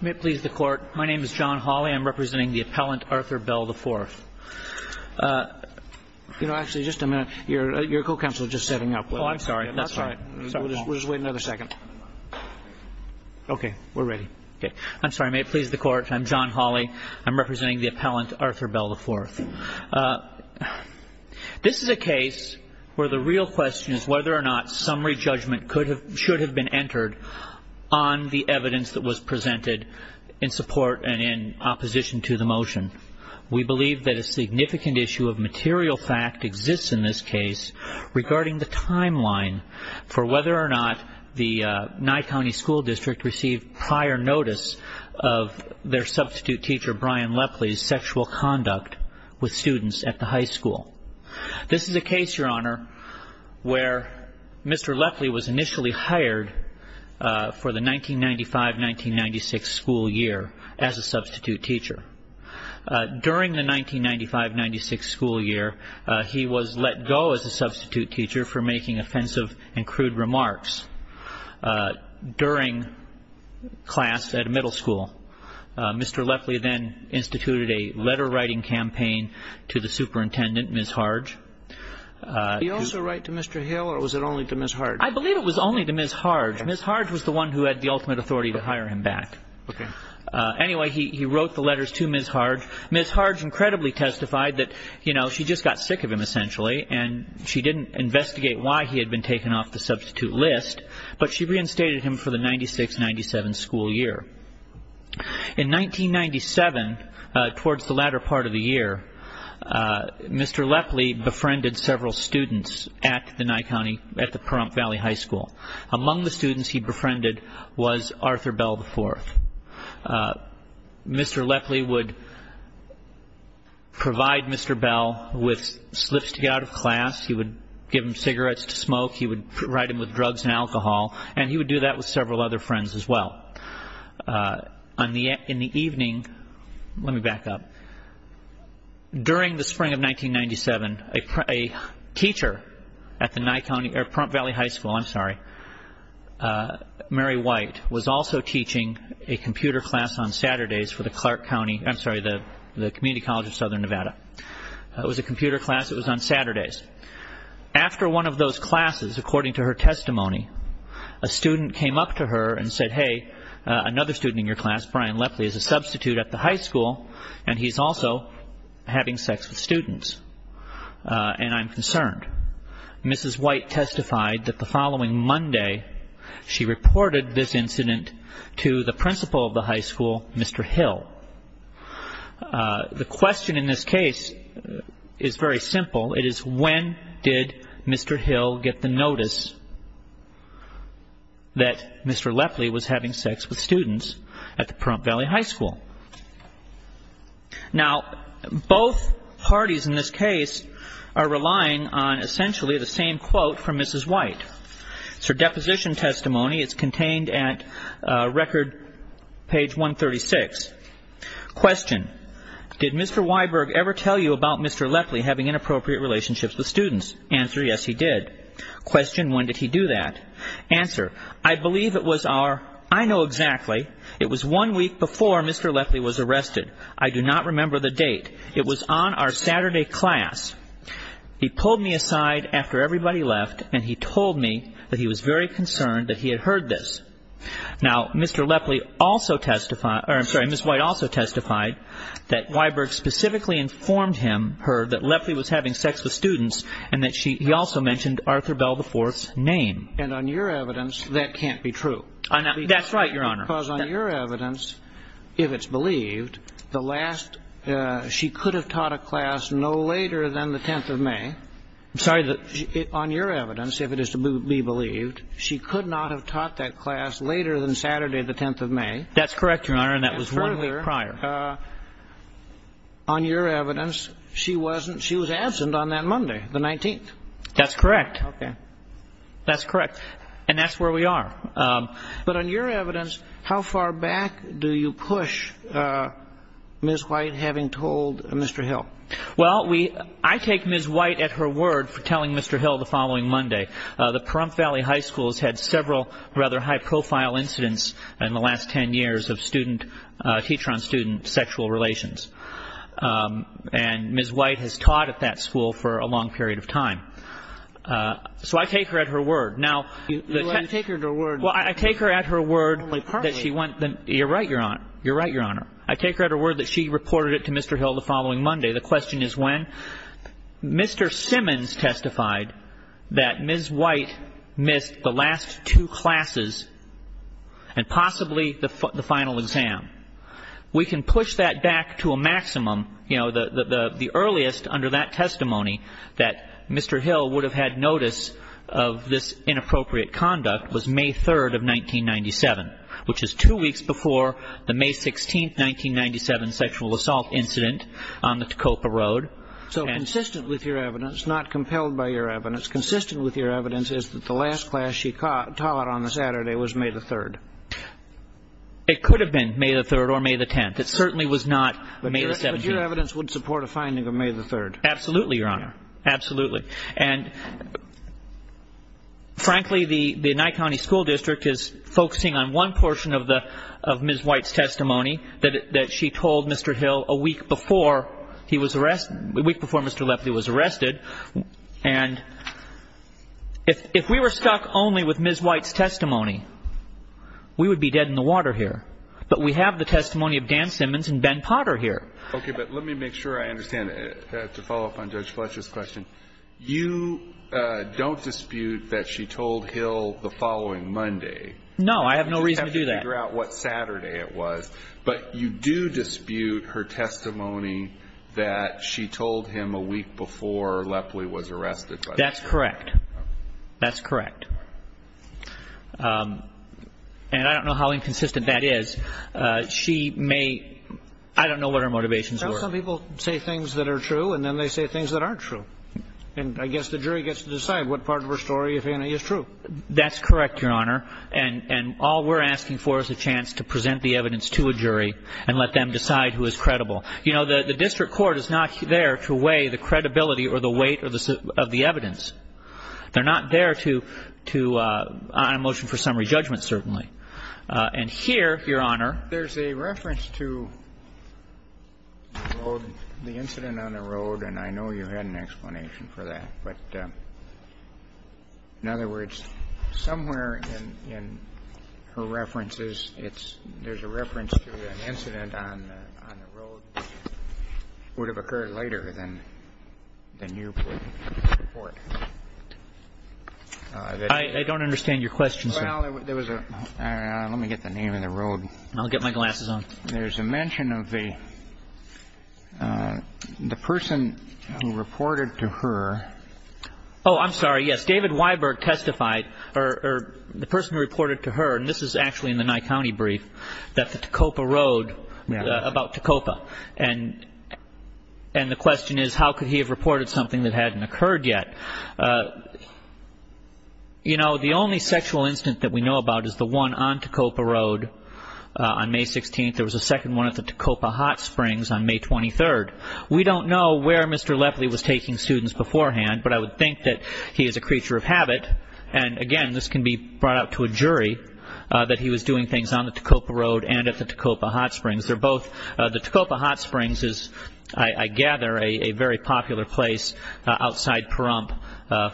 May it please the Court. My name is John Hawley. I'm representing the appellant, Arthur Bell IV. You know, actually, just a minute. Your co-counsel is just setting up. Oh, I'm sorry. That's all right. We'll just wait another second. Okay. We're ready. I'm sorry. May it please the Court. I'm John Hawley. I'm representing the appellant, Arthur Bell IV. This is a case where the real question is whether or not summary judgment should have been entered on the evidence that was presented in support and in opposition to the motion. We believe that a significant issue of material fact exists in this case regarding the timeline for whether or not the Nye County School District received prior notice of their substitute teacher, Brian Lepley's, sexual conduct with students at the high school. This is a case, Your Honor, where Mr. Lepley was initially hired for the 1995-1996 school year as a substitute teacher. During the 1995-1996 school year, he was let go as a substitute teacher for making offensive and crude remarks during class at a middle school. Mr. Lepley then instituted a letter-writing campaign to the superintendent, Ms. Harge. Did he also write to Mr. Hill, or was it only to Ms. Harge? I believe it was only to Ms. Harge. Ms. Harge was the one who had the ultimate authority to hire him back. Anyway, he wrote the letters to Ms. Harge. Ms. Harge incredibly testified that, you know, she just got sick of him, essentially, and she didn't investigate why he had been taken off the substitute list, but she reinstated him for the 1996-1997 school year. In 1997, towards the latter part of the year, Mr. Lepley befriended several students at the Nye County, at the Pahrump Valley High School. Among the students he befriended was Arthur Bell IV. Mr. Lepley would provide Mr. Bell with slips to get out of class. He would give him cigarettes to smoke. He would provide him with drugs and alcohol, and he would do that with several other friends as well. In the evening, let me back up. During the spring of 1997, a teacher at the Pahrump Valley High School, Mary White, was also teaching a computer class on Saturdays for the Clark County, I'm sorry, the Community College of Southern Nevada. It was a computer class. It was on Saturdays. After one of those classes, according to her testimony, a student came up to her and said, hey, another student in your class, Brian Lepley, is a substitute at the high school, and he's also having sex with students, and I'm concerned. Mrs. White testified that the following Monday she reported this incident to the principal of the high school, Mr. Hill. The question in this case is very simple. It is when did Mr. Hill get the notice that Mr. Lepley was having sex with students at the Pahrump Valley High School? Now, both parties in this case are relying on essentially the same quote from Mrs. White. It's her deposition testimony. It's contained at record page 136. Question, did Mr. Weiberg ever tell you about Mr. Lepley having inappropriate relationships with students? Answer, yes, he did. Question, when did he do that? Answer, I believe it was our, I know exactly, it was one week before Mr. Lepley was arrested. I do not remember the date. It was on our Saturday class. He pulled me aside after everybody left, and he told me that he was very concerned that he had heard this. Now, Mr. Lepley also testified, or I'm sorry, Mrs. White also testified that Weiberg specifically informed him, her, that Lepley was having sex with students and that he also mentioned Arthur Bell IV's name. And on your evidence, that can't be true. That's right, Your Honor. Because on your evidence, if it's believed, the last, she could have taught a class no later than the 10th of May. I'm sorry. On your evidence, if it is to be believed, she could not have taught that class later than Saturday the 10th of May. That's correct, Your Honor, and that was one week prior. And further, on your evidence, she wasn't, she was absent on that Monday, the 19th. That's correct. Okay. That's correct. And that's where we are. But on your evidence, how far back do you push Ms. White having told Mr. Hill? Well, we, I take Ms. White at her word for telling Mr. Hill the following Monday. The Pahrump Valley High School has had several rather high-profile incidents in the last 10 years of student, teacher-on-student sexual relations. And Ms. White has taught at that school for a long period of time. So I take her at her word. You take her at her word. Well, I take her at her word that she went, you're right, Your Honor. You're right, Your Honor. I take her at her word that she reported it to Mr. Hill the following Monday. The question is when. Mr. Simmons testified that Ms. White missed the last two classes and possibly the final exam. We can push that back to a maximum. You know, the earliest under that testimony that Mr. Hill would have had notice of this inappropriate conduct was May 3rd of 1997, which is two weeks before the May 16th, 1997 sexual assault incident on the Tacopa Road. So consistent with your evidence, not compelled by your evidence, consistent with your evidence is that the last class she taught on the Saturday was May the 3rd. It could have been May the 3rd or May the 10th. It certainly was not May the 17th. But your evidence wouldn't support a finding of May the 3rd. Absolutely, Your Honor. Absolutely. And frankly, the Nye County School District is focusing on one portion of Ms. White's testimony that she told Mr. Hill a week before he was arrested, a week before Mr. Lefty was arrested. And if we were stuck only with Ms. White's testimony, we would be dead in the water here. But we have the testimony of Dan Simmons and Ben Potter here. Okay, but let me make sure I understand. To follow up on Judge Fletcher's question, you don't dispute that she told Hill the following Monday. No, I have no reason to do that. But you do dispute her testimony that she told him a week before Lefty was arrested. That's correct. That's correct. And I don't know how inconsistent that is. She may – I don't know what her motivations were. Sometimes people say things that are true, and then they say things that aren't true. And I guess the jury gets to decide what part of her story, if any, is true. That's correct, Your Honor. And all we're asking for is a chance to present the evidence to a jury and let them decide who is credible. You know, the district court is not there to weigh the credibility or the weight of the evidence. They're not there to – on a motion for summary judgment, certainly. And here, Your Honor – There's a reference to the incident on the road, and I know you had an explanation for that. But, in other words, somewhere in her references, it's – there's a reference to an incident on the road. It would have occurred later than you would report. I don't understand your question, sir. Well, there was a – let me get the name of the road. I'll get my glasses on. There's a mention of the person who reported to her. Oh, I'm sorry. Yes, David Weiberg testified, or the person who reported to her – and this is actually in the Nye County brief – that the Tacopa Road – about Tacopa. And the question is, how could he have reported something that hadn't occurred yet? You know, the only sexual incident that we know about is the one on Tacopa Road on May 16th. There was a second one at the Tacopa Hot Springs on May 23rd. We don't know where Mr. Lepley was taking students beforehand, but I would think that he is a creature of habit. And, again, this can be brought up to a jury, that he was doing things on the Tacopa Road and at the Tacopa Hot Springs. They're both – the Tacopa Hot Springs is, I gather, a very popular place outside Pahrump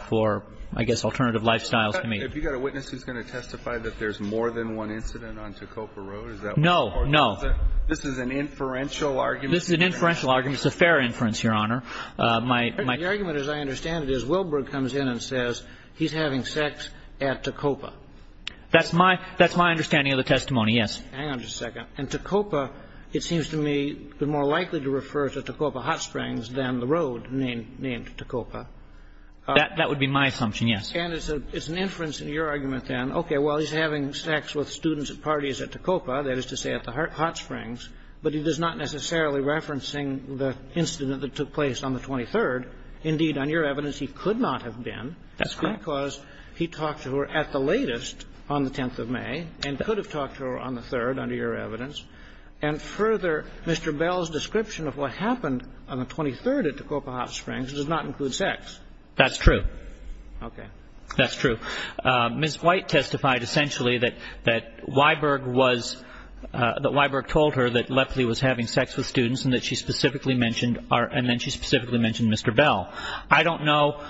for, I guess, alternative lifestyles. Have you got a witness who's going to testify that there's more than one incident on Tacopa Road? No, no. This is an inferential argument. This is an inferential argument. It's a fair inference, Your Honor. The argument, as I understand it, is Wilbur comes in and says he's having sex at Tacopa. That's my understanding of the testimony, yes. Hang on just a second. And Tacopa, it seems to me, is more likely to refer to Tacopa Hot Springs than the road named Tacopa. That would be my assumption, yes. And it's an inference in your argument, then, okay, well, he's having sex with students at parties at Tacopa, that is to say at the Hot Springs, but he is not necessarily referencing the incident that took place on the 23rd. Indeed, on your evidence, he could not have been. That's correct. And that's because he talked to her at the latest on the 10th of May and could have talked to her on the 3rd, under your evidence. And further, Mr. Bell's description of what happened on the 23rd at Tacopa Hot Springs does not include sex. That's true. Okay. That's true. Ms. White testified essentially that Weiberg was – that Weiberg told her that Lepley was having sex with students and that she specifically mentioned our – and then she specifically mentioned Mr. Bell. I don't know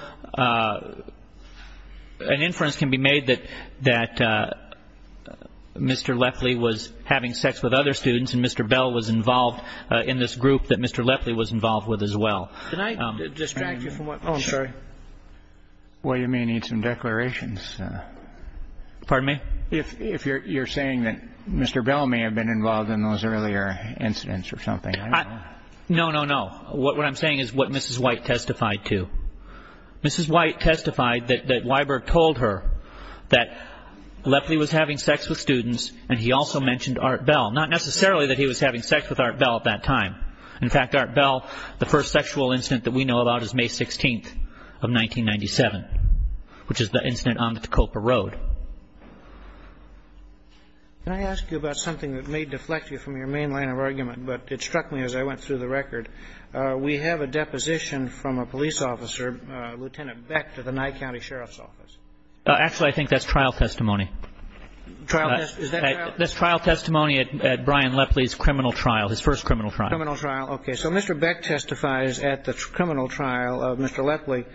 – an inference can be made that Mr. Lepley was having sex with other students and Mr. Bell was involved in this group that Mr. Lepley was involved with as well. Did I distract you from what – oh, I'm sorry. Well, you may need some declarations. Pardon me? If you're saying that Mr. Bell may have been involved in those earlier incidents or something. No, no, no. What I'm saying is what Mrs. White testified to. Mrs. White testified that Weiberg told her that Lepley was having sex with students and he also mentioned Art Bell. Not necessarily that he was having sex with Art Bell at that time. In fact, Art Bell, the first sexual incident that we know about is May 16th of 1997, which is the incident on the Tacopa Road. Can I ask you about something that may deflect you from your main line of argument? But it struck me as I went through the record. We have a deposition from a police officer, Lieutenant Beck, to the Nye County Sheriff's Office. Actually, I think that's trial testimony. Trial – is that trial? That's trial testimony at Brian Lepley's criminal trial, his first criminal trial. Criminal trial. Okay. So Mr. Beck testifies at the criminal trial of Mr. Lepley.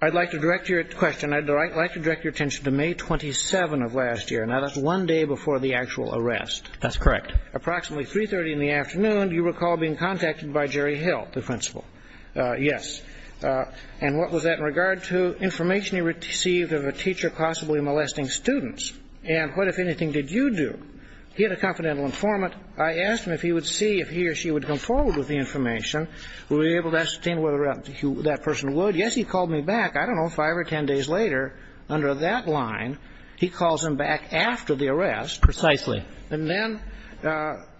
I'd like to direct your question – I'd like to direct your attention to May 27th of last year. Now, that's one day before the actual arrest. That's correct. Approximately 3.30 in the afternoon, do you recall being contacted by Jerry Hill, the principal? Yes. And what was that in regard to information he received of a teacher possibly molesting students? And what, if anything, did you do? He had a confidential informant. I asked him if he would see if he or she would come forward with the information. Were you able to ascertain whether or not that person would? Yes, he called me back. I don't know, five or ten days later, under that line, he calls him back after the arrest. Precisely. And then,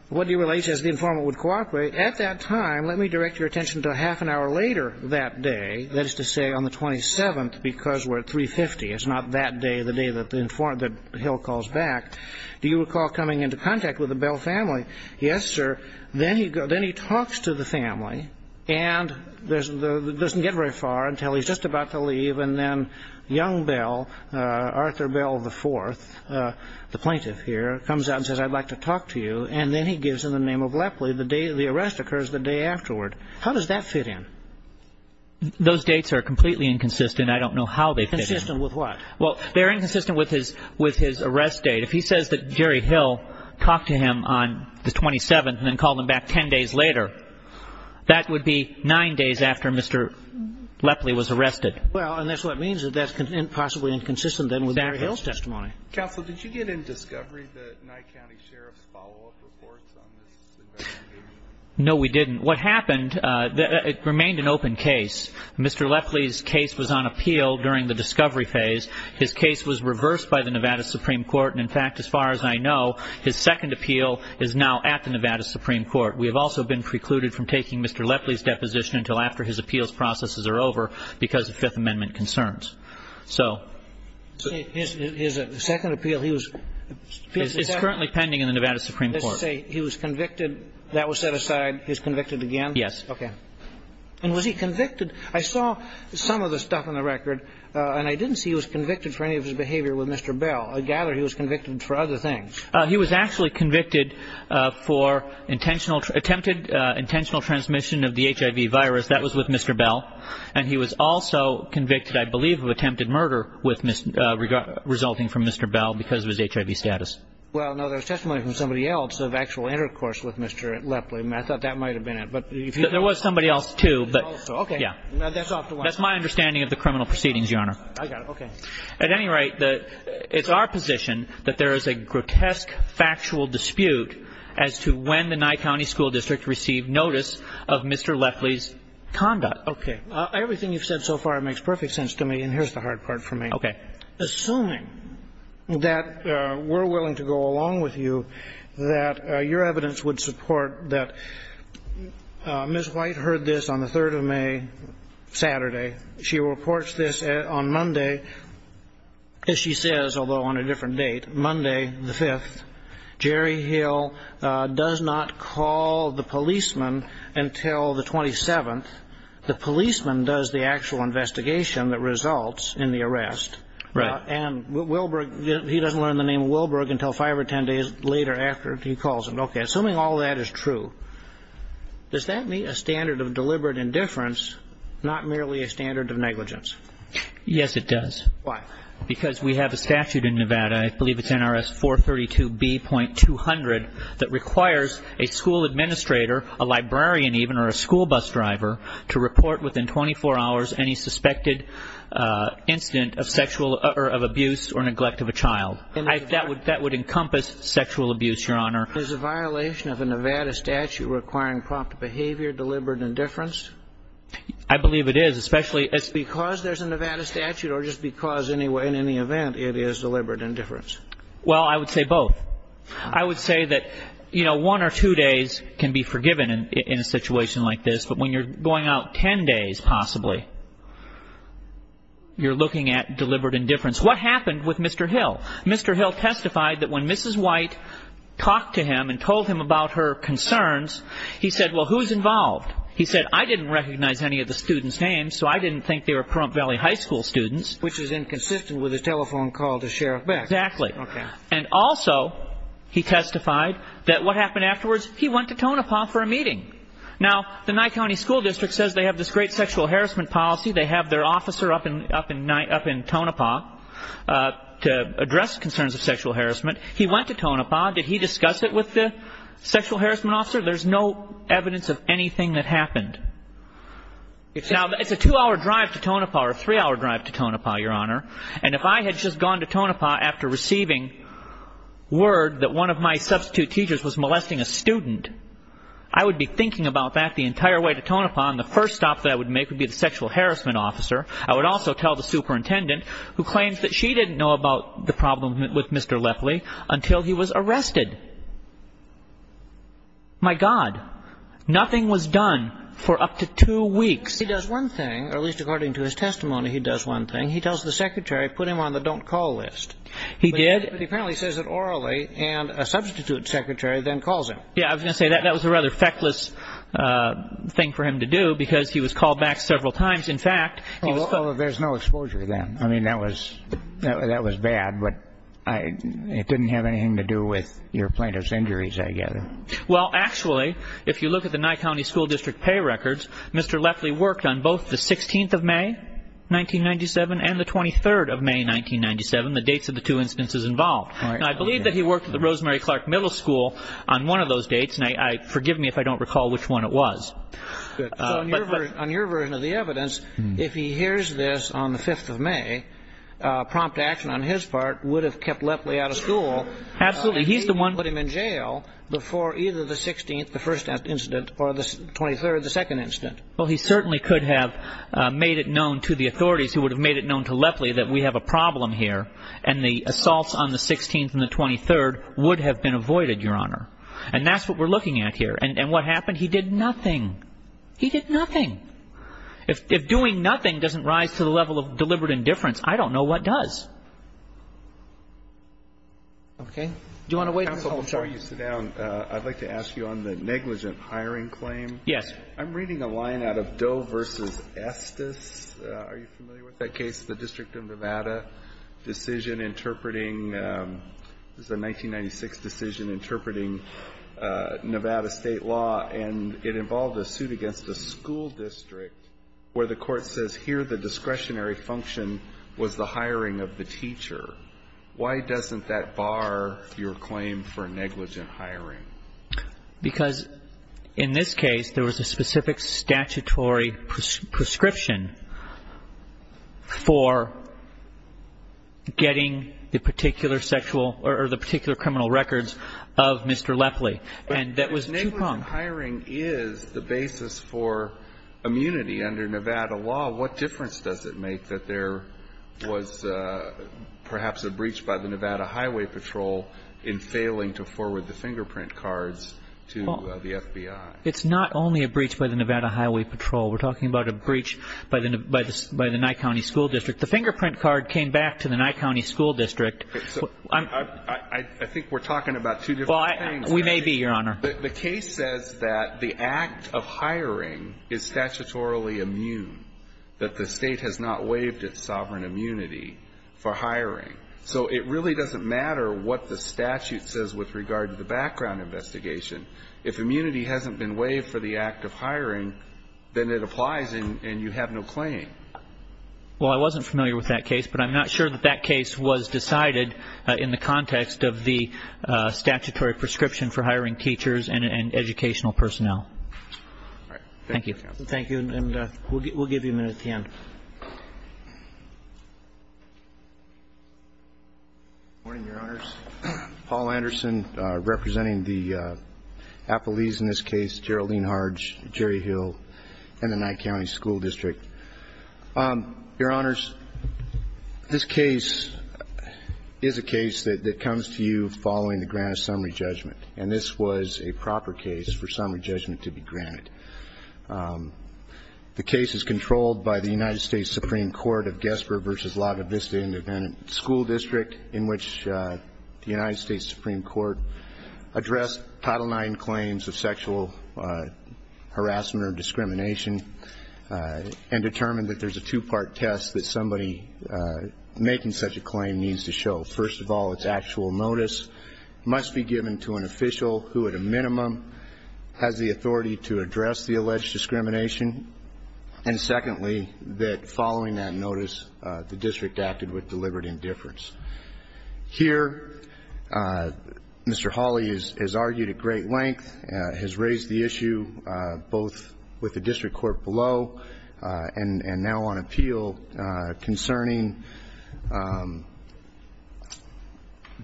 what do you – he says the informant would cooperate. At that time, let me direct your attention to a half an hour later that day, that is to say on the 27th, because we're at 3.50, it's not that day, the day that the informant – that Hill calls back. Do you recall coming into contact with the Bell family? Yes, sir. Then he talks to the family, and it doesn't get very far until he's just about to leave, and then young Bell, Arthur Bell IV, the plaintiff here, comes out and says, I'd like to talk to you, and then he gives them the name of Lepley. The arrest occurs the day afterward. How does that fit in? Those dates are completely inconsistent. I don't know how they fit in. Inconsistent with what? Well, they're inconsistent with his arrest date. If he says that Jerry Hill talked to him on the 27th and then called him back 10 days later, that would be nine days after Mr. Lepley was arrested. Well, and that's what it means that that's possibly inconsistent then with Jerry Hill's testimony. Counsel, did you get any discovery that Nye County Sheriff's follow-up reports on this investigation? No, we didn't. What happened, it remained an open case. Mr. Lepley's case was on appeal during the discovery phase. His case was reversed by the Nevada Supreme Court, and, in fact, as far as I know, his second appeal is now at the Nevada Supreme Court. We have also been precluded from taking Mr. Lepley's deposition until after his appeals processes are over because of Fifth Amendment concerns. So. His second appeal, he was... It's currently pending in the Nevada Supreme Court. He was convicted. That was set aside. He was convicted again? Yes. Okay. And was he convicted? I saw some of the stuff on the record, and I didn't see he was convicted for any of his behavior with Mr. Bell. I gather he was convicted for other things. He was actually convicted for intentional attempted intentional transmission of the HIV virus. That was with Mr. Bell. And he was also convicted, I believe, of attempted murder resulting from Mr. Bell because of his HIV status. Well, no, there's testimony from somebody else of actual intercourse with Mr. Lepley. I thought that might have been it. There was somebody else, too. Okay. That's my understanding of the criminal proceedings, Your Honor. I got it. Okay. At any rate, it's our position that there is a grotesque factual dispute as to when the Nye County School District received notice of Mr. Lepley's conduct. Okay. Everything you've said so far makes perfect sense to me, and here's the hard part for me. Okay. Assuming that we're willing to go along with you, that your evidence would support that Ms. White heard this on the 3rd of May, Saturday. She reports this on Monday, as she says, although on a different date, Monday the 5th. Jerry Hill does not call the policeman until the 27th. The policeman does the actual investigation that results in the arrest. Right. And Wilberg, he doesn't learn the name Wilberg until five or ten days later after he calls him. Okay. Assuming all that is true, does that meet a standard of deliberate indifference, not merely a standard of negligence? Yes, it does. Why? Because we have a statute in Nevada, I believe it's NRS 432B.200, that requires a school administrator, a librarian even, or a school bus driver, to report within 24 hours any suspected incident of abuse or neglect of a child. That would encompass sexual abuse, Your Honor. Is a violation of a Nevada statute requiring prompt behavior, deliberate indifference? I believe it is. Because there's a Nevada statute or just because in any event it is deliberate indifference? Well, I would say both. I would say that, you know, one or two days can be forgiven in a situation like this, but when you're going out ten days, possibly, you're looking at deliberate indifference. What happened with Mr. Hill? Mr. Hill testified that when Mrs. White talked to him and told him about her concerns, he said, well, who's involved? He said, I didn't recognize any of the students' names, so I didn't think they were Pahrump Valley High School students. Which is inconsistent with his telephone call to Sheriff Beck. Exactly. Okay. And also he testified that what happened afterwards, he went to Tonopah for a meeting. Now, the Nye County School District says they have this great sexual harassment policy. They have their officer up in Tonopah to address concerns of sexual harassment. He went to Tonopah. Did he discuss it with the sexual harassment officer? There's no evidence of anything that happened. Now, it's a two-hour drive to Tonopah or a three-hour drive to Tonopah, Your Honor, and if I had just gone to Tonopah after receiving word that one of my substitute teachers was molesting a student, I would be thinking about that the entire way to Tonopah, and the first stop that I would make would be the sexual harassment officer. I would also tell the superintendent, who claims that she didn't know about the problem with Mr. Lepley until he was arrested. My God. Nothing was done for up to two weeks. He does one thing, or at least according to his testimony, he does one thing. He tells the secretary, put him on the don't call list. He did. But he apparently says it orally, and a substitute secretary then calls him. Yeah, I was going to say that was a rather feckless thing for him to do because he was called back several times. In fact, he was put. Although there's no exposure then. I mean, that was bad, but it didn't have anything to do with your plaintiff's injuries, I gather. Well, actually, if you look at the Nye County School District pay records, Mr. Lepley worked on both the 16th of May, 1997, and the 23rd of May, 1997, the dates of the two instances involved. And I believe that he worked at the Rosemary Clark Middle School on one of those dates, and forgive me if I don't recall which one it was. On your version of the evidence, if he hears this on the 5th of May, prompt action on his part would have kept Lepley out of school. Absolutely. He's the one who put him in jail before either the 16th, the first incident, or the 23rd, the second incident. Well, he certainly could have made it known to the authorities who would have made it known to Lepley that we have a problem here, and the assaults on the 16th and the 23rd would have been avoided, Your Honor. And that's what we're looking at here. And what happened? He did nothing. He did nothing. If doing nothing doesn't rise to the level of deliberate indifference, I don't know what does. Okay. Counsel, before you sit down, I'd like to ask you on the negligent hiring claim. Yes. I'm reading a line out of Doe v. Estes. Are you familiar with that case? It's the District of Nevada decision interpreting the 1996 decision interpreting Nevada state law, and it involved a suit against a school district where the court says, here the discretionary function was the hiring of the teacher. Why doesn't that bar your claim for negligent hiring? Because in this case, there was a specific statutory prescription for getting the particular sexual or the particular criminal records of Mr. Lepley, and that was too long. But negligent hiring is the basis for immunity under Nevada law. What difference does it make that there was perhaps a breach by the Nevada Highway Patrol in failing to forward the fingerprint cards to the FBI? It's not only a breach by the Nevada Highway Patrol. We're talking about a breach by the Nye County School District. The fingerprint card came back to the Nye County School District. I think we're talking about two different things. We may be, Your Honor. The case says that the act of hiring is statutorily immune, that the state has not waived its sovereign immunity for hiring. So it really doesn't matter what the statute says with regard to the background investigation. If immunity hasn't been waived for the act of hiring, then it applies and you have no claim. Well, I wasn't familiar with that case, but I'm not sure that that case was decided in the context of the statutory prescription for hiring teachers and educational personnel. All right. Thank you. Thank you, and we'll give you a minute at the end. Good morning, Your Honors. Paul Anderson, representing the appellees in this case, Geraldine Harge, Jerry Hill, and the Nye County School District. Your Honors, this case is a case that comes to you following the grant of summary judgment, and this was a proper case for summary judgment to be granted. The case is controlled by the United States Supreme Court of Gessber v. Lagavista Independent School District, in which the United States Supreme Court addressed Title IX claims of sexual harassment or discrimination and determined that there's a two-part test that somebody making such a claim needs to show. First of all, its actual notice must be given to an official who, at a minimum, has the authority to address the alleged discrimination, and secondly, that following that notice, the district acted with deliberate indifference. Here, Mr. Hawley has argued at great length, has raised the issue both with the district court below and now on appeal concerning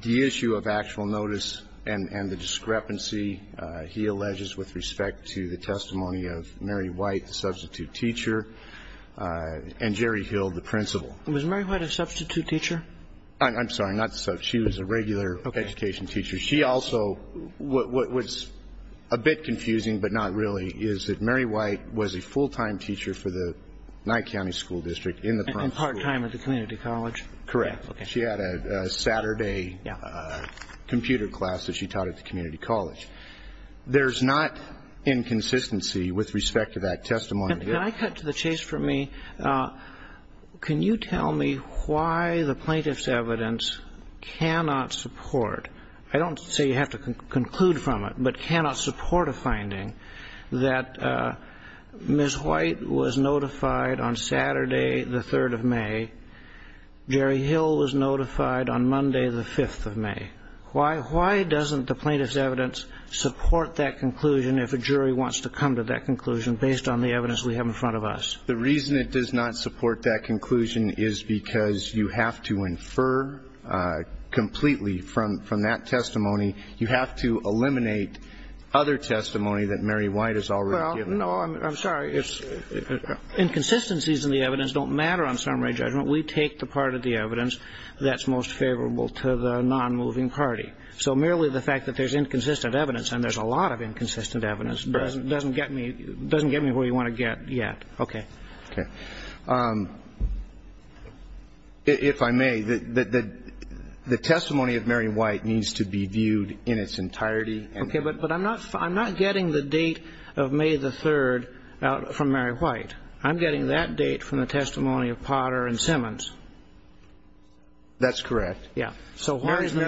the issue of actual notice and the discrepancy he alleges with respect to the testimony of Mary White, the substitute teacher, and Jerry Hill, the principal. Was Mary White a substitute teacher? I'm sorry, not substitute. She was a regular education teacher. She also was a bit confusing, but not really, is that Mary White was a full-time teacher for the Nye County School District in the part school. And part-time at the community college? Correct. She had a Saturday computer class that she taught at the community college. There's not inconsistency with respect to that testimony. Can I cut to the chase for me? Can you tell me why the plaintiff's evidence cannot support, I don't say you have to conclude from it, but cannot support a finding that Ms. White was notified on Saturday, the 3rd of May. Jerry Hill was notified on Monday, the 5th of May. Why doesn't the plaintiff's evidence support that conclusion if a jury wants to come to that conclusion based on the evidence we have in front of us? The reason it does not support that conclusion is because you have to infer completely from that testimony, you have to eliminate other testimony that Mary White has already given. Well, no, I'm sorry. Inconsistencies in the evidence don't matter on summary judgment. We take the part of the evidence that's most favorable to the non-moving party. So merely the fact that there's inconsistent evidence, and there's a lot of inconsistent evidence doesn't get me where you want to get yet. Okay. Okay. If I may, the testimony of Mary White needs to be viewed in its entirety. Okay. But I'm not getting the date of May the 3rd from Mary White. I'm getting that date from the testimony of Potter and Simmons. That's correct. Yeah. So why is the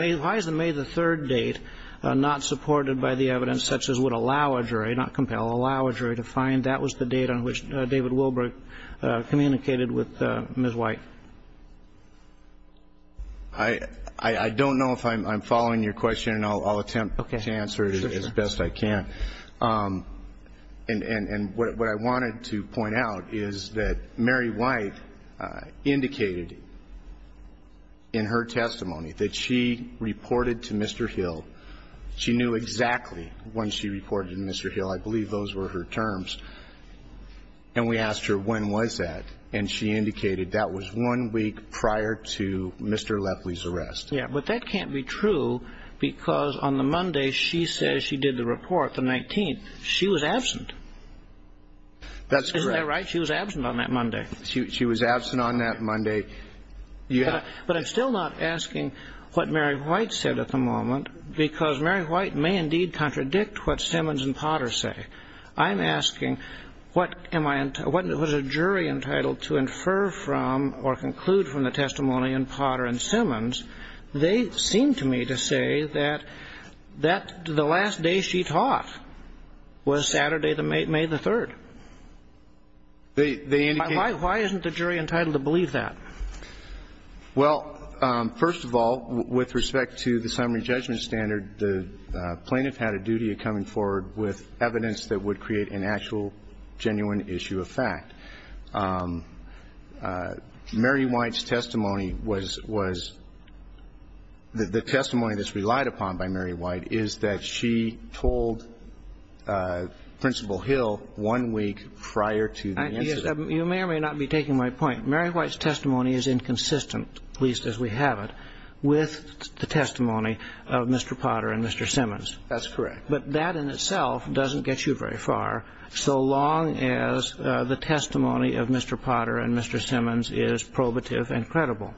May the 3rd date not supported by the evidence such as would allow a jury, not compel, allow a jury to find? That was the date on which David Wilbrick communicated with Ms. White. I don't know if I'm following your question, and I'll attempt to answer it as best I can. And what I wanted to point out is that Mary White indicated in her testimony that she reported to Mr. Hill. She knew exactly when she reported to Mr. Hill. I believe those were her terms. And we asked her when was that, and she indicated that was one week prior to Mr. Lepley's arrest. Yeah. But that can't be true because on the Monday she says she did the report, the 19th, she was absent. That's correct. Isn't that right? She was absent on that Monday. She was absent on that Monday. But I'm still not asking what Mary White said at the moment because Mary White may indeed contradict what Simmons and Potter say. I'm asking what was a jury entitled to infer from or conclude from the testimony in Potter and Simmons. They seem to me to say that the last day she taught was Saturday, May the 3rd. Why isn't the jury entitled to believe that? Well, first of all, with respect to the summary judgment standard, the plaintiff had a duty of coming forward with evidence that would create an actual genuine issue of fact. Mary White's testimony was the testimony that's relied upon by Mary White is that she told Principal Hill one week prior to the incident. You may or may not be taking my point. Mary White's testimony is inconsistent, at least as we have it, with the testimony of Mr. Potter and Mr. Simmons. That's correct. But that in itself doesn't get you very far so long as the testimony of Mr. Potter and Mr. Simmons is probative and credible.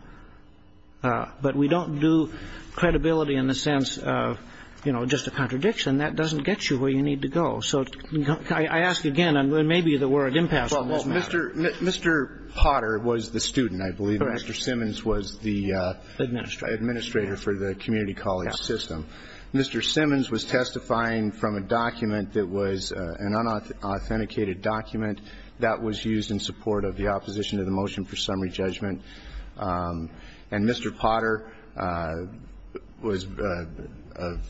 But we don't do credibility in the sense of, you know, just a contradiction. That doesn't get you where you need to go. So I ask again, and maybe the word impassable doesn't matter. Well, Mr. Potter was the student, I believe. Correct. Mr. Simmons was the administrator for the community college system. Mr. Simmons was testifying from a document that was an unauthenticated document that was used in support of the opposition to the motion for summary judgment. And Mr. Potter was an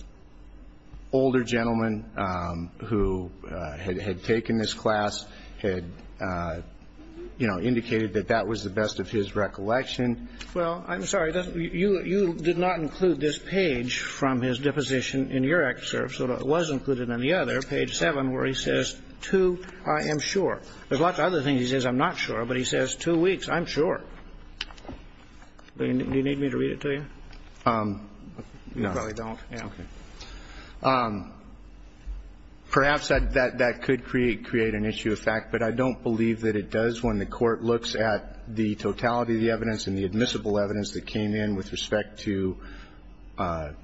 older gentleman who had taken this class, had, you know, indicated that that was the best of his recollection. Well, I'm sorry. You did not include this page from his deposition in your excerpt. So it was included in the other, page 7, where he says, two, I am sure. There's lots of other things he says, I'm not sure. But he says two weeks, I'm sure. Do you need me to read it to you? No. You probably don't. Yeah. Okay. Perhaps that could create an issue of fact, but I don't believe that it does when the Court looks at the totality of the evidence and the admissible evidence that came in with respect to the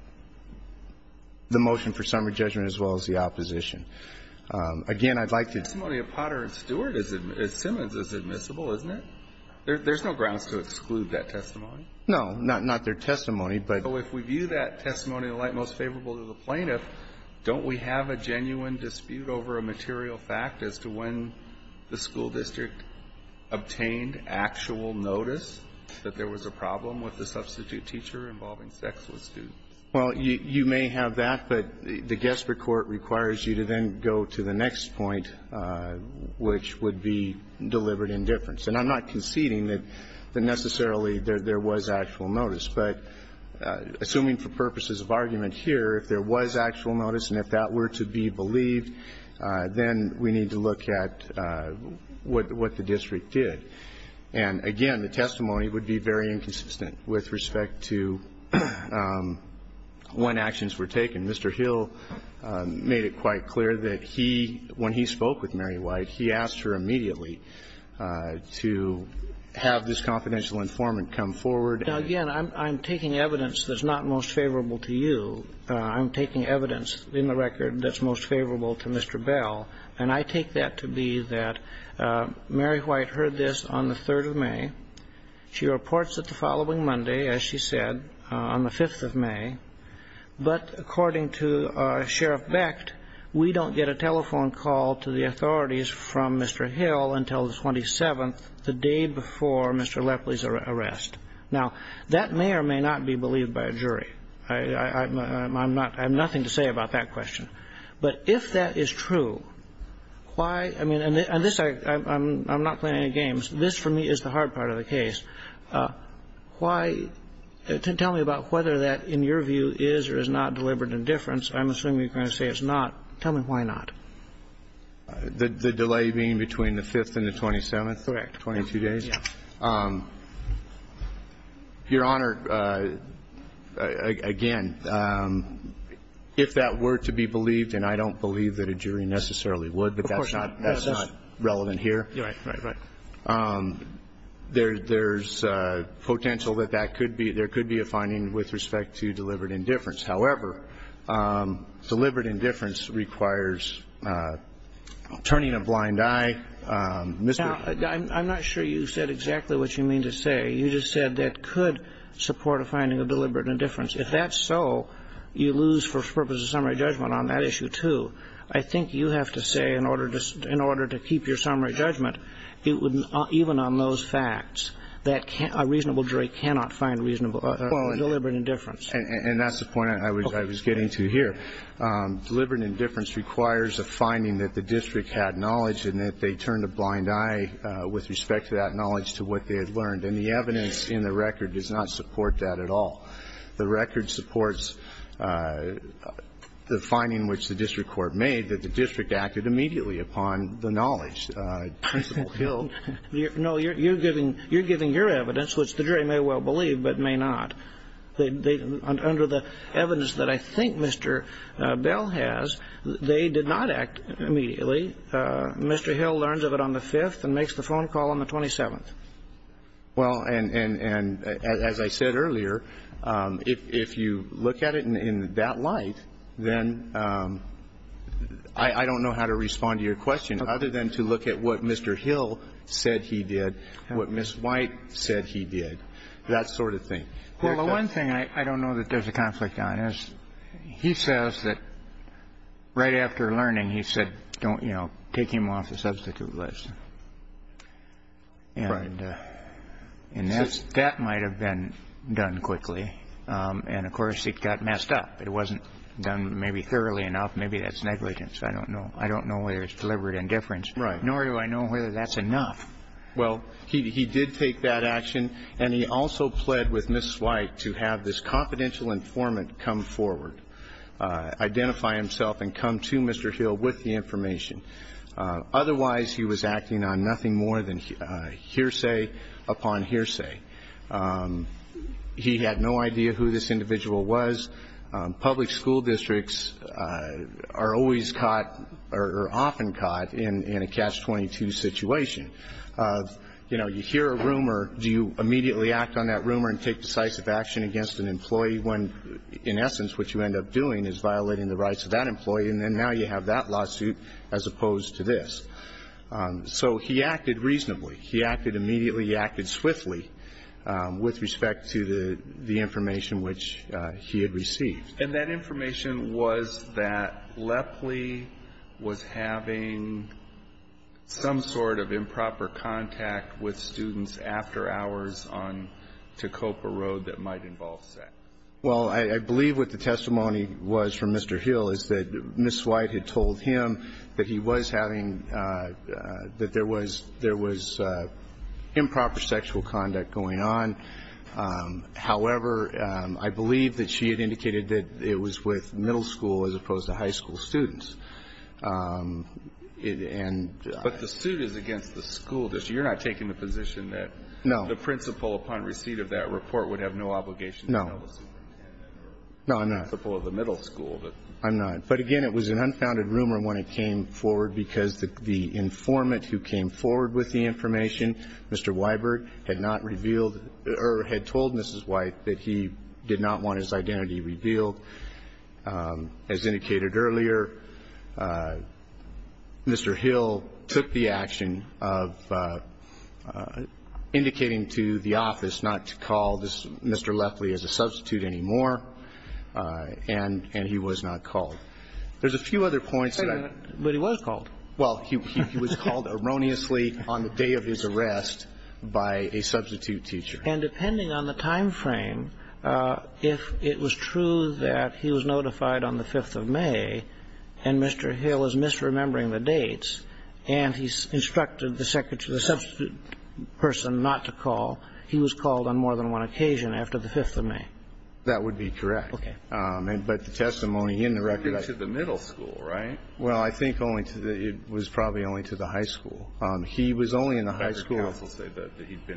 motion for summary judgment as well as the opposition. Again, I'd like to ---- The testimony of Potter and Stewart at Simmons is admissible, isn't it? There's no grounds to exclude that testimony. No. Not their testimony, but ---- So if we view that testimony in light most favorable to the plaintiff, don't we have a genuine dispute over a material fact as to when the school district obtained actual notice that there was a problem with the substitute teacher involving sex with students? Well, you may have that, but the guesswork court requires you to then go to the next point, which would be deliberate indifference. And I'm not conceding that necessarily there was actual notice. But assuming for purposes of argument here, if there was actual notice and if that were to be believed, then we need to look at what the district did. And again, the testimony would be very inconsistent with respect to when actions were taken. Mr. Hill made it quite clear that he, when he spoke with Mary White, he asked her immediately to have this confidential informant come forward and ---- Now, again, I'm taking evidence that's not most favorable to you. I'm taking evidence in the record that's most favorable to Mr. Bell. And I take that to be that Mary White heard this on the 3rd of May. She reports it the following Monday, as she said, on the 5th of May. But according to Sheriff Becht, we don't get a telephone call to the authorities from Mr. Hill until the 27th, the day before Mr. Lepley's arrest. Now, that may or may not be believed by a jury. I'm not ---- I have nothing to say about that question. But if that is true, why ---- I mean, and this ---- I'm not playing any games. This, for me, is the hard part of the case. Why ---- tell me about whether that, in your view, is or is not deliberate indifference. I'm assuming you're going to say it's not. Tell me why not. The delay being between the 5th and the 27th? Correct. 22 days? Yes. Your Honor, again, if that were to be believed, and I don't believe that a jury necessarily would, but that's not ---- that's not relevant here. Right, right, right. There's potential that that could be ---- there could be a finding with respect to deliberate indifference. However, deliberate indifference requires turning a blind eye, Mr. ---- I'm not sure you said exactly what you mean to say. You just said that could support a finding of deliberate indifference. If that's so, you lose for purposes of summary judgment on that issue, too. I think you have to say in order to keep your summary judgment, it would ---- even on those facts, that a reasonable jury cannot find reasonable deliberate indifference. And that's the point I was getting to here. Deliberate indifference requires a finding that the district had knowledge and that they turned a blind eye with respect to that knowledge to what they had learned. And the evidence in the record does not support that at all. The record supports the finding which the district court made, that the district acted immediately upon the knowledge. No, you're giving your evidence, which the jury may well believe but may not. Under the evidence that I think Mr. Bell has, they did not act immediately. Mr. Hill learns of it on the 5th and makes the phone call on the 27th. Well, and as I said earlier, if you look at it in that light, then I don't know how to respond to your question other than to look at what Mr. Hill said he did, what Ms. White said he did, that sort of thing. Well, the one thing I don't know that there's a conflict on is he says that right after learning he said don't, you know, take him off the substitute list. Right. And that might have been done quickly. And, of course, it got messed up. It wasn't done maybe thoroughly enough. Maybe that's negligence. I don't know. I don't know whether it's deliberate indifference. Right. Nor do I know whether that's enough. Well, he did take that action, and he also pled with Ms. White to have this confidential informant come forward, identify himself and come to Mr. Hill with the information. Otherwise, he was acting on nothing more than hearsay upon hearsay. He had no idea who this individual was. Public school districts are always caught or are often caught in a Catch-22 situation. You know, you hear a rumor, do you immediately act on that rumor and take decisive action against an employee when, in essence, what you end up doing is violating the rights of that employee, and then now you have that lawsuit as opposed to this. So he acted reasonably. He acted immediately. He acted swiftly with respect to the information which he had received. And that information was that Lepley was having some sort of improper contact with students after hours on Tacopa Road that might involve sex. Well, I believe what the testimony was from Mr. Hill is that Ms. White had told him that he was having – that there was improper sexual conduct going on. However, I believe that she had indicated that it was with middle school as opposed to high school students. And – But the suit is against the school district. You're not taking the position that – No. The principal upon receipt of that report would have no obligation to tell the school district. No. No, I'm not. The principal of the middle school. I'm not. But, again, it was an unfounded rumor when it came forward because the informant who came forward with the information, Mr. Weiberg, had not revealed or had told Ms. White that he did not want his identity revealed. As indicated earlier, Mr. Hill took the action of indicating to the office not to call this Mr. Lepley as a substitute anymore, and he was not called. There's a few other points that I – But he was called. Well, he was called erroneously on the day of his arrest by a substitute teacher. And depending on the timeframe, if it was true that he was notified on the 5th of May and Mr. Hill is misremembering the dates and he's instructed the substitute person not to call, he was called on more than one occasion after the 5th of May. That would be correct. Okay. But the testimony in the record – He'd been to the middle school, right? Well, I think only to the – it was probably only to the high school. He was only in the high school – He'd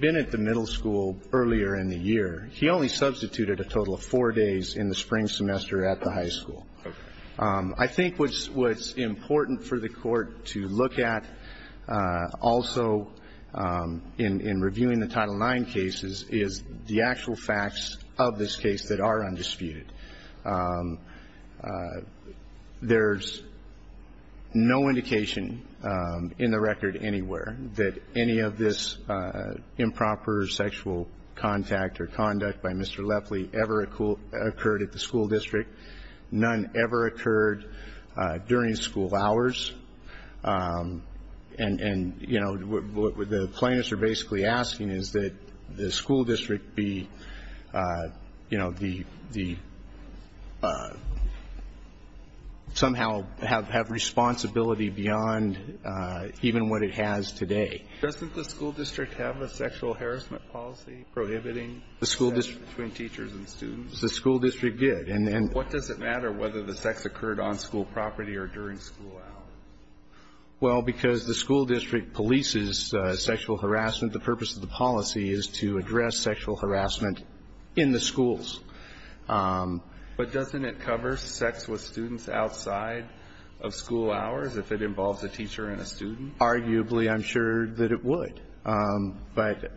been at the middle school earlier in the year. He only substituted a total of four days in the spring semester at the high school. Okay. I think what's important for the court to look at also in reviewing the Title IX cases is the actual facts of this case that are undisputed. There's no indication in the record anywhere that any of this improper sexual contact or conduct by Mr. Lefley ever occurred at the school district. None ever occurred during school hours. And, you know, what the plaintiffs are basically asking is that the school district be, you know, somehow have responsibility beyond even what it has today. Doesn't the school district have a sexual harassment policy prohibiting sex between teachers and students? The school district did. What does it matter whether the sex occurred on school property or during school hours? Well, because the school district polices sexual harassment, the purpose of the policy is to address sexual harassment in the schools. But doesn't it cover sex with students outside of school hours if it involves a teacher and a student? Arguably, I'm sure that it would. But,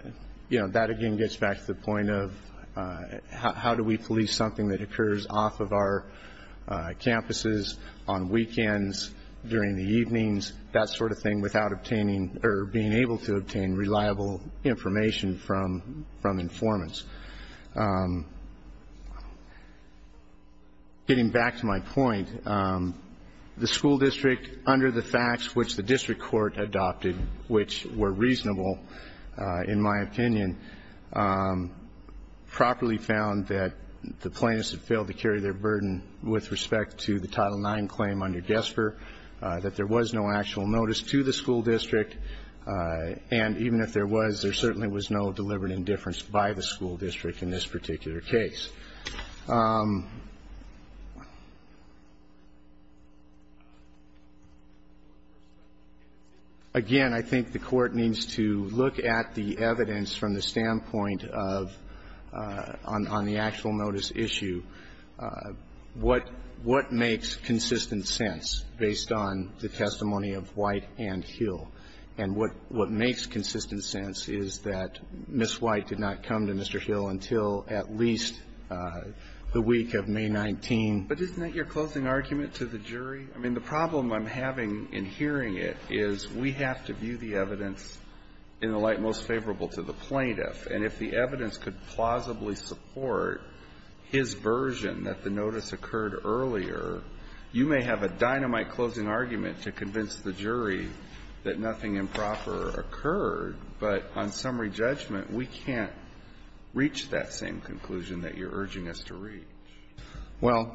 you know, that again gets back to the point of how do we police something that occurs off of our campuses, on weekends, during the evenings, that sort of thing, without obtaining or being able to obtain reliable information from informants. Getting back to my point, the school district, under the facts which the district court adopted, which were reasonable in my opinion, properly found that the plaintiffs had failed to carry their burden with respect to the Title IX claim under GESPR, that there was no actual notice to the school district, and even if there was, there certainly was no deliberate indifference by the school district in this particular case. Again, I think the Court needs to look at the evidence from the standpoint of, on the actual notice issue, what makes consistent sense based on the testimony of White and Hill. And what makes consistent sense is that Ms. White did not come to Mr. Hill until at least the week of May 19. But isn't that your closing argument to the jury? I mean, the problem I'm having in hearing it is we have to view the evidence in the light most favorable to the plaintiff. And if the evidence could plausibly support his version that the notice occurred earlier, you may have a dynamite closing argument to convince the jury that nothing improper occurred. But on summary judgment, we can't reach that same conclusion that you're urging us to reach. Well,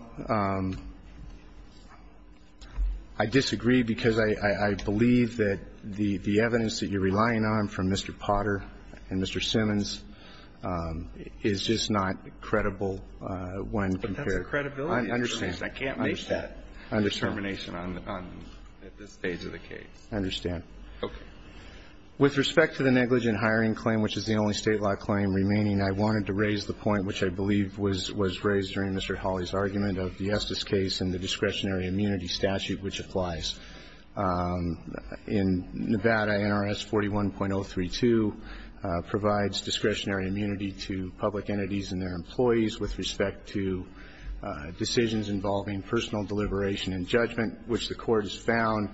I disagree because I believe that the evidence that you're relying on from Mr. Potter and Mr. Simmons is just not credible when compared. But that's a credibility determination. I can't make that determination at this stage of the case. I understand. Okay. With respect to the negligent hiring claim, which is the only State law claim remaining, I wanted to raise the point which I believe was raised during Mr. Hawley's argument of the Estes case and the discretionary immunity statute which applies. In Nevada, NRS 41.032 provides discretionary immunity to public entities and their own decisions involving personal deliberation and judgment, which the Court has found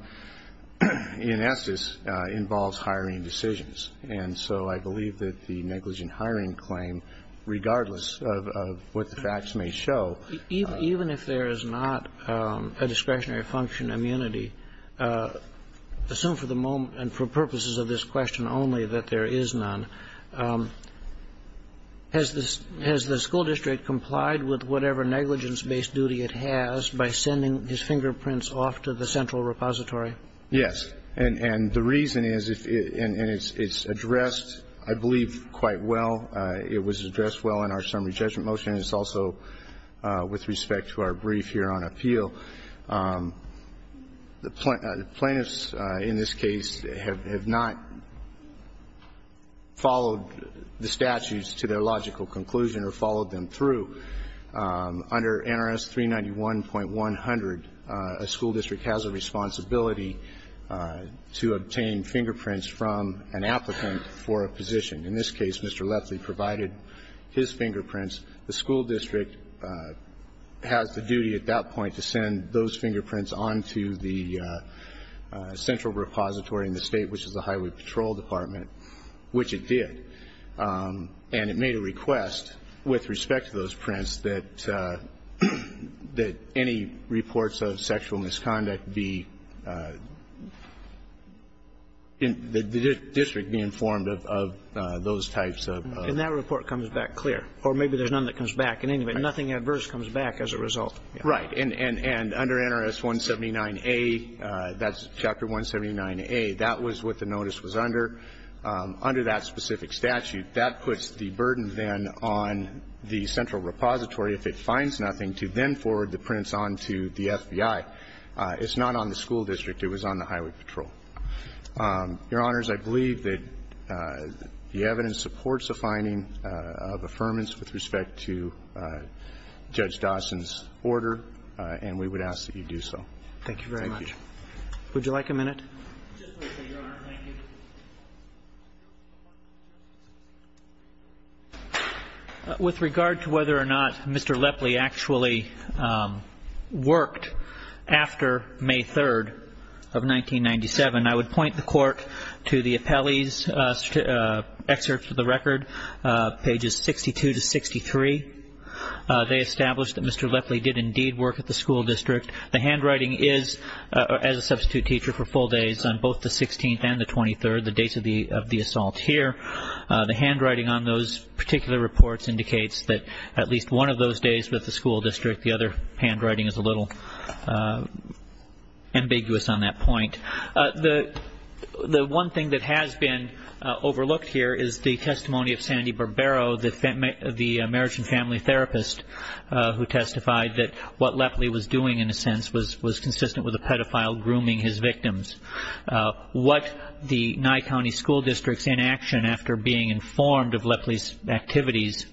in Estes involves hiring decisions. And so I believe that the negligent hiring claim, regardless of what the facts may show Even if there is not a discretionary function immunity, assume for the moment and for purposes of this question only that there is none, has the school district complied with whatever negligence-based duty it has by sending his fingerprints off to the central repository? Yes. And the reason is, and it's addressed, I believe, quite well. It was addressed well in our summary judgment motion. It's also with respect to our brief here on appeal. The plaintiffs in this case have not followed the statutes to their logical conclusion or followed them through. Under NRS 391.100, a school district has a responsibility to obtain fingerprints from an applicant for a position. In this case, Mr. Leftley provided his fingerprints. The school district has the duty at that point to send those fingerprints on to the central repository in the State, which is the Highway Patrol Department, which it did. And it made a request with respect to those prints that any reports of sexual misconduct be the district be informed of those types of. And that report comes back clear. Or maybe there's none that comes back. In any event, nothing adverse comes back as a result. Right. And under NRS 179A, that's Chapter 179A, that was what the notice was under. Under that specific statute, that puts the burden then on the central repository if it finds nothing to then forward the prints on to the FBI. It's not on the school district. It was on the Highway Patrol. Your Honors, I believe that the evidence supports the finding of affirmance with respect to Judge Dawson's order, and we would ask that you do so. Thank you very much. Thank you. Would you like a minute? Just briefly, Your Honor. Thank you. With regard to whether or not Mr. Leftley actually worked after May 3rd of 1997, I would point the Court to the appellee's excerpts of the record, pages 62 to 63. They establish that Mr. Leftley did indeed work at the school district. The handwriting is, as a substitute teacher, for full days on both the 16th and the 23rd, the dates of the assault here. The handwriting on those particular reports indicates that at least one of those days was at the school district. The other handwriting is a little ambiguous on that point. The one thing that has been overlooked here is the testimony of Sandy Barbero, the marriage and family therapist who testified that what Leftley was doing, in a sense, was consistent with a pedophile grooming his victims. What the Nye County School District's inaction after being informed of Leftley's activities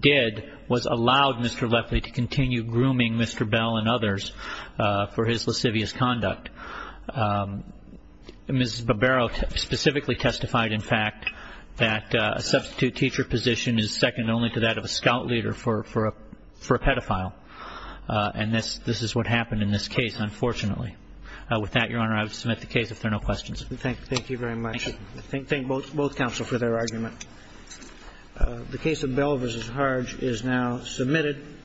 did was allow Mr. Leftley to continue grooming Mr. Bell and others for his lascivious conduct. Ms. Barbero specifically testified, in fact, that a substitute teacher position is second only to that of a scout leader for a pedophile. And this is what happened in this case, unfortunately. With that, Your Honor, I would submit the case if there are no questions. Thank you very much. Thank both counsel for their argument. The case of Bell v. Harge is now submitted.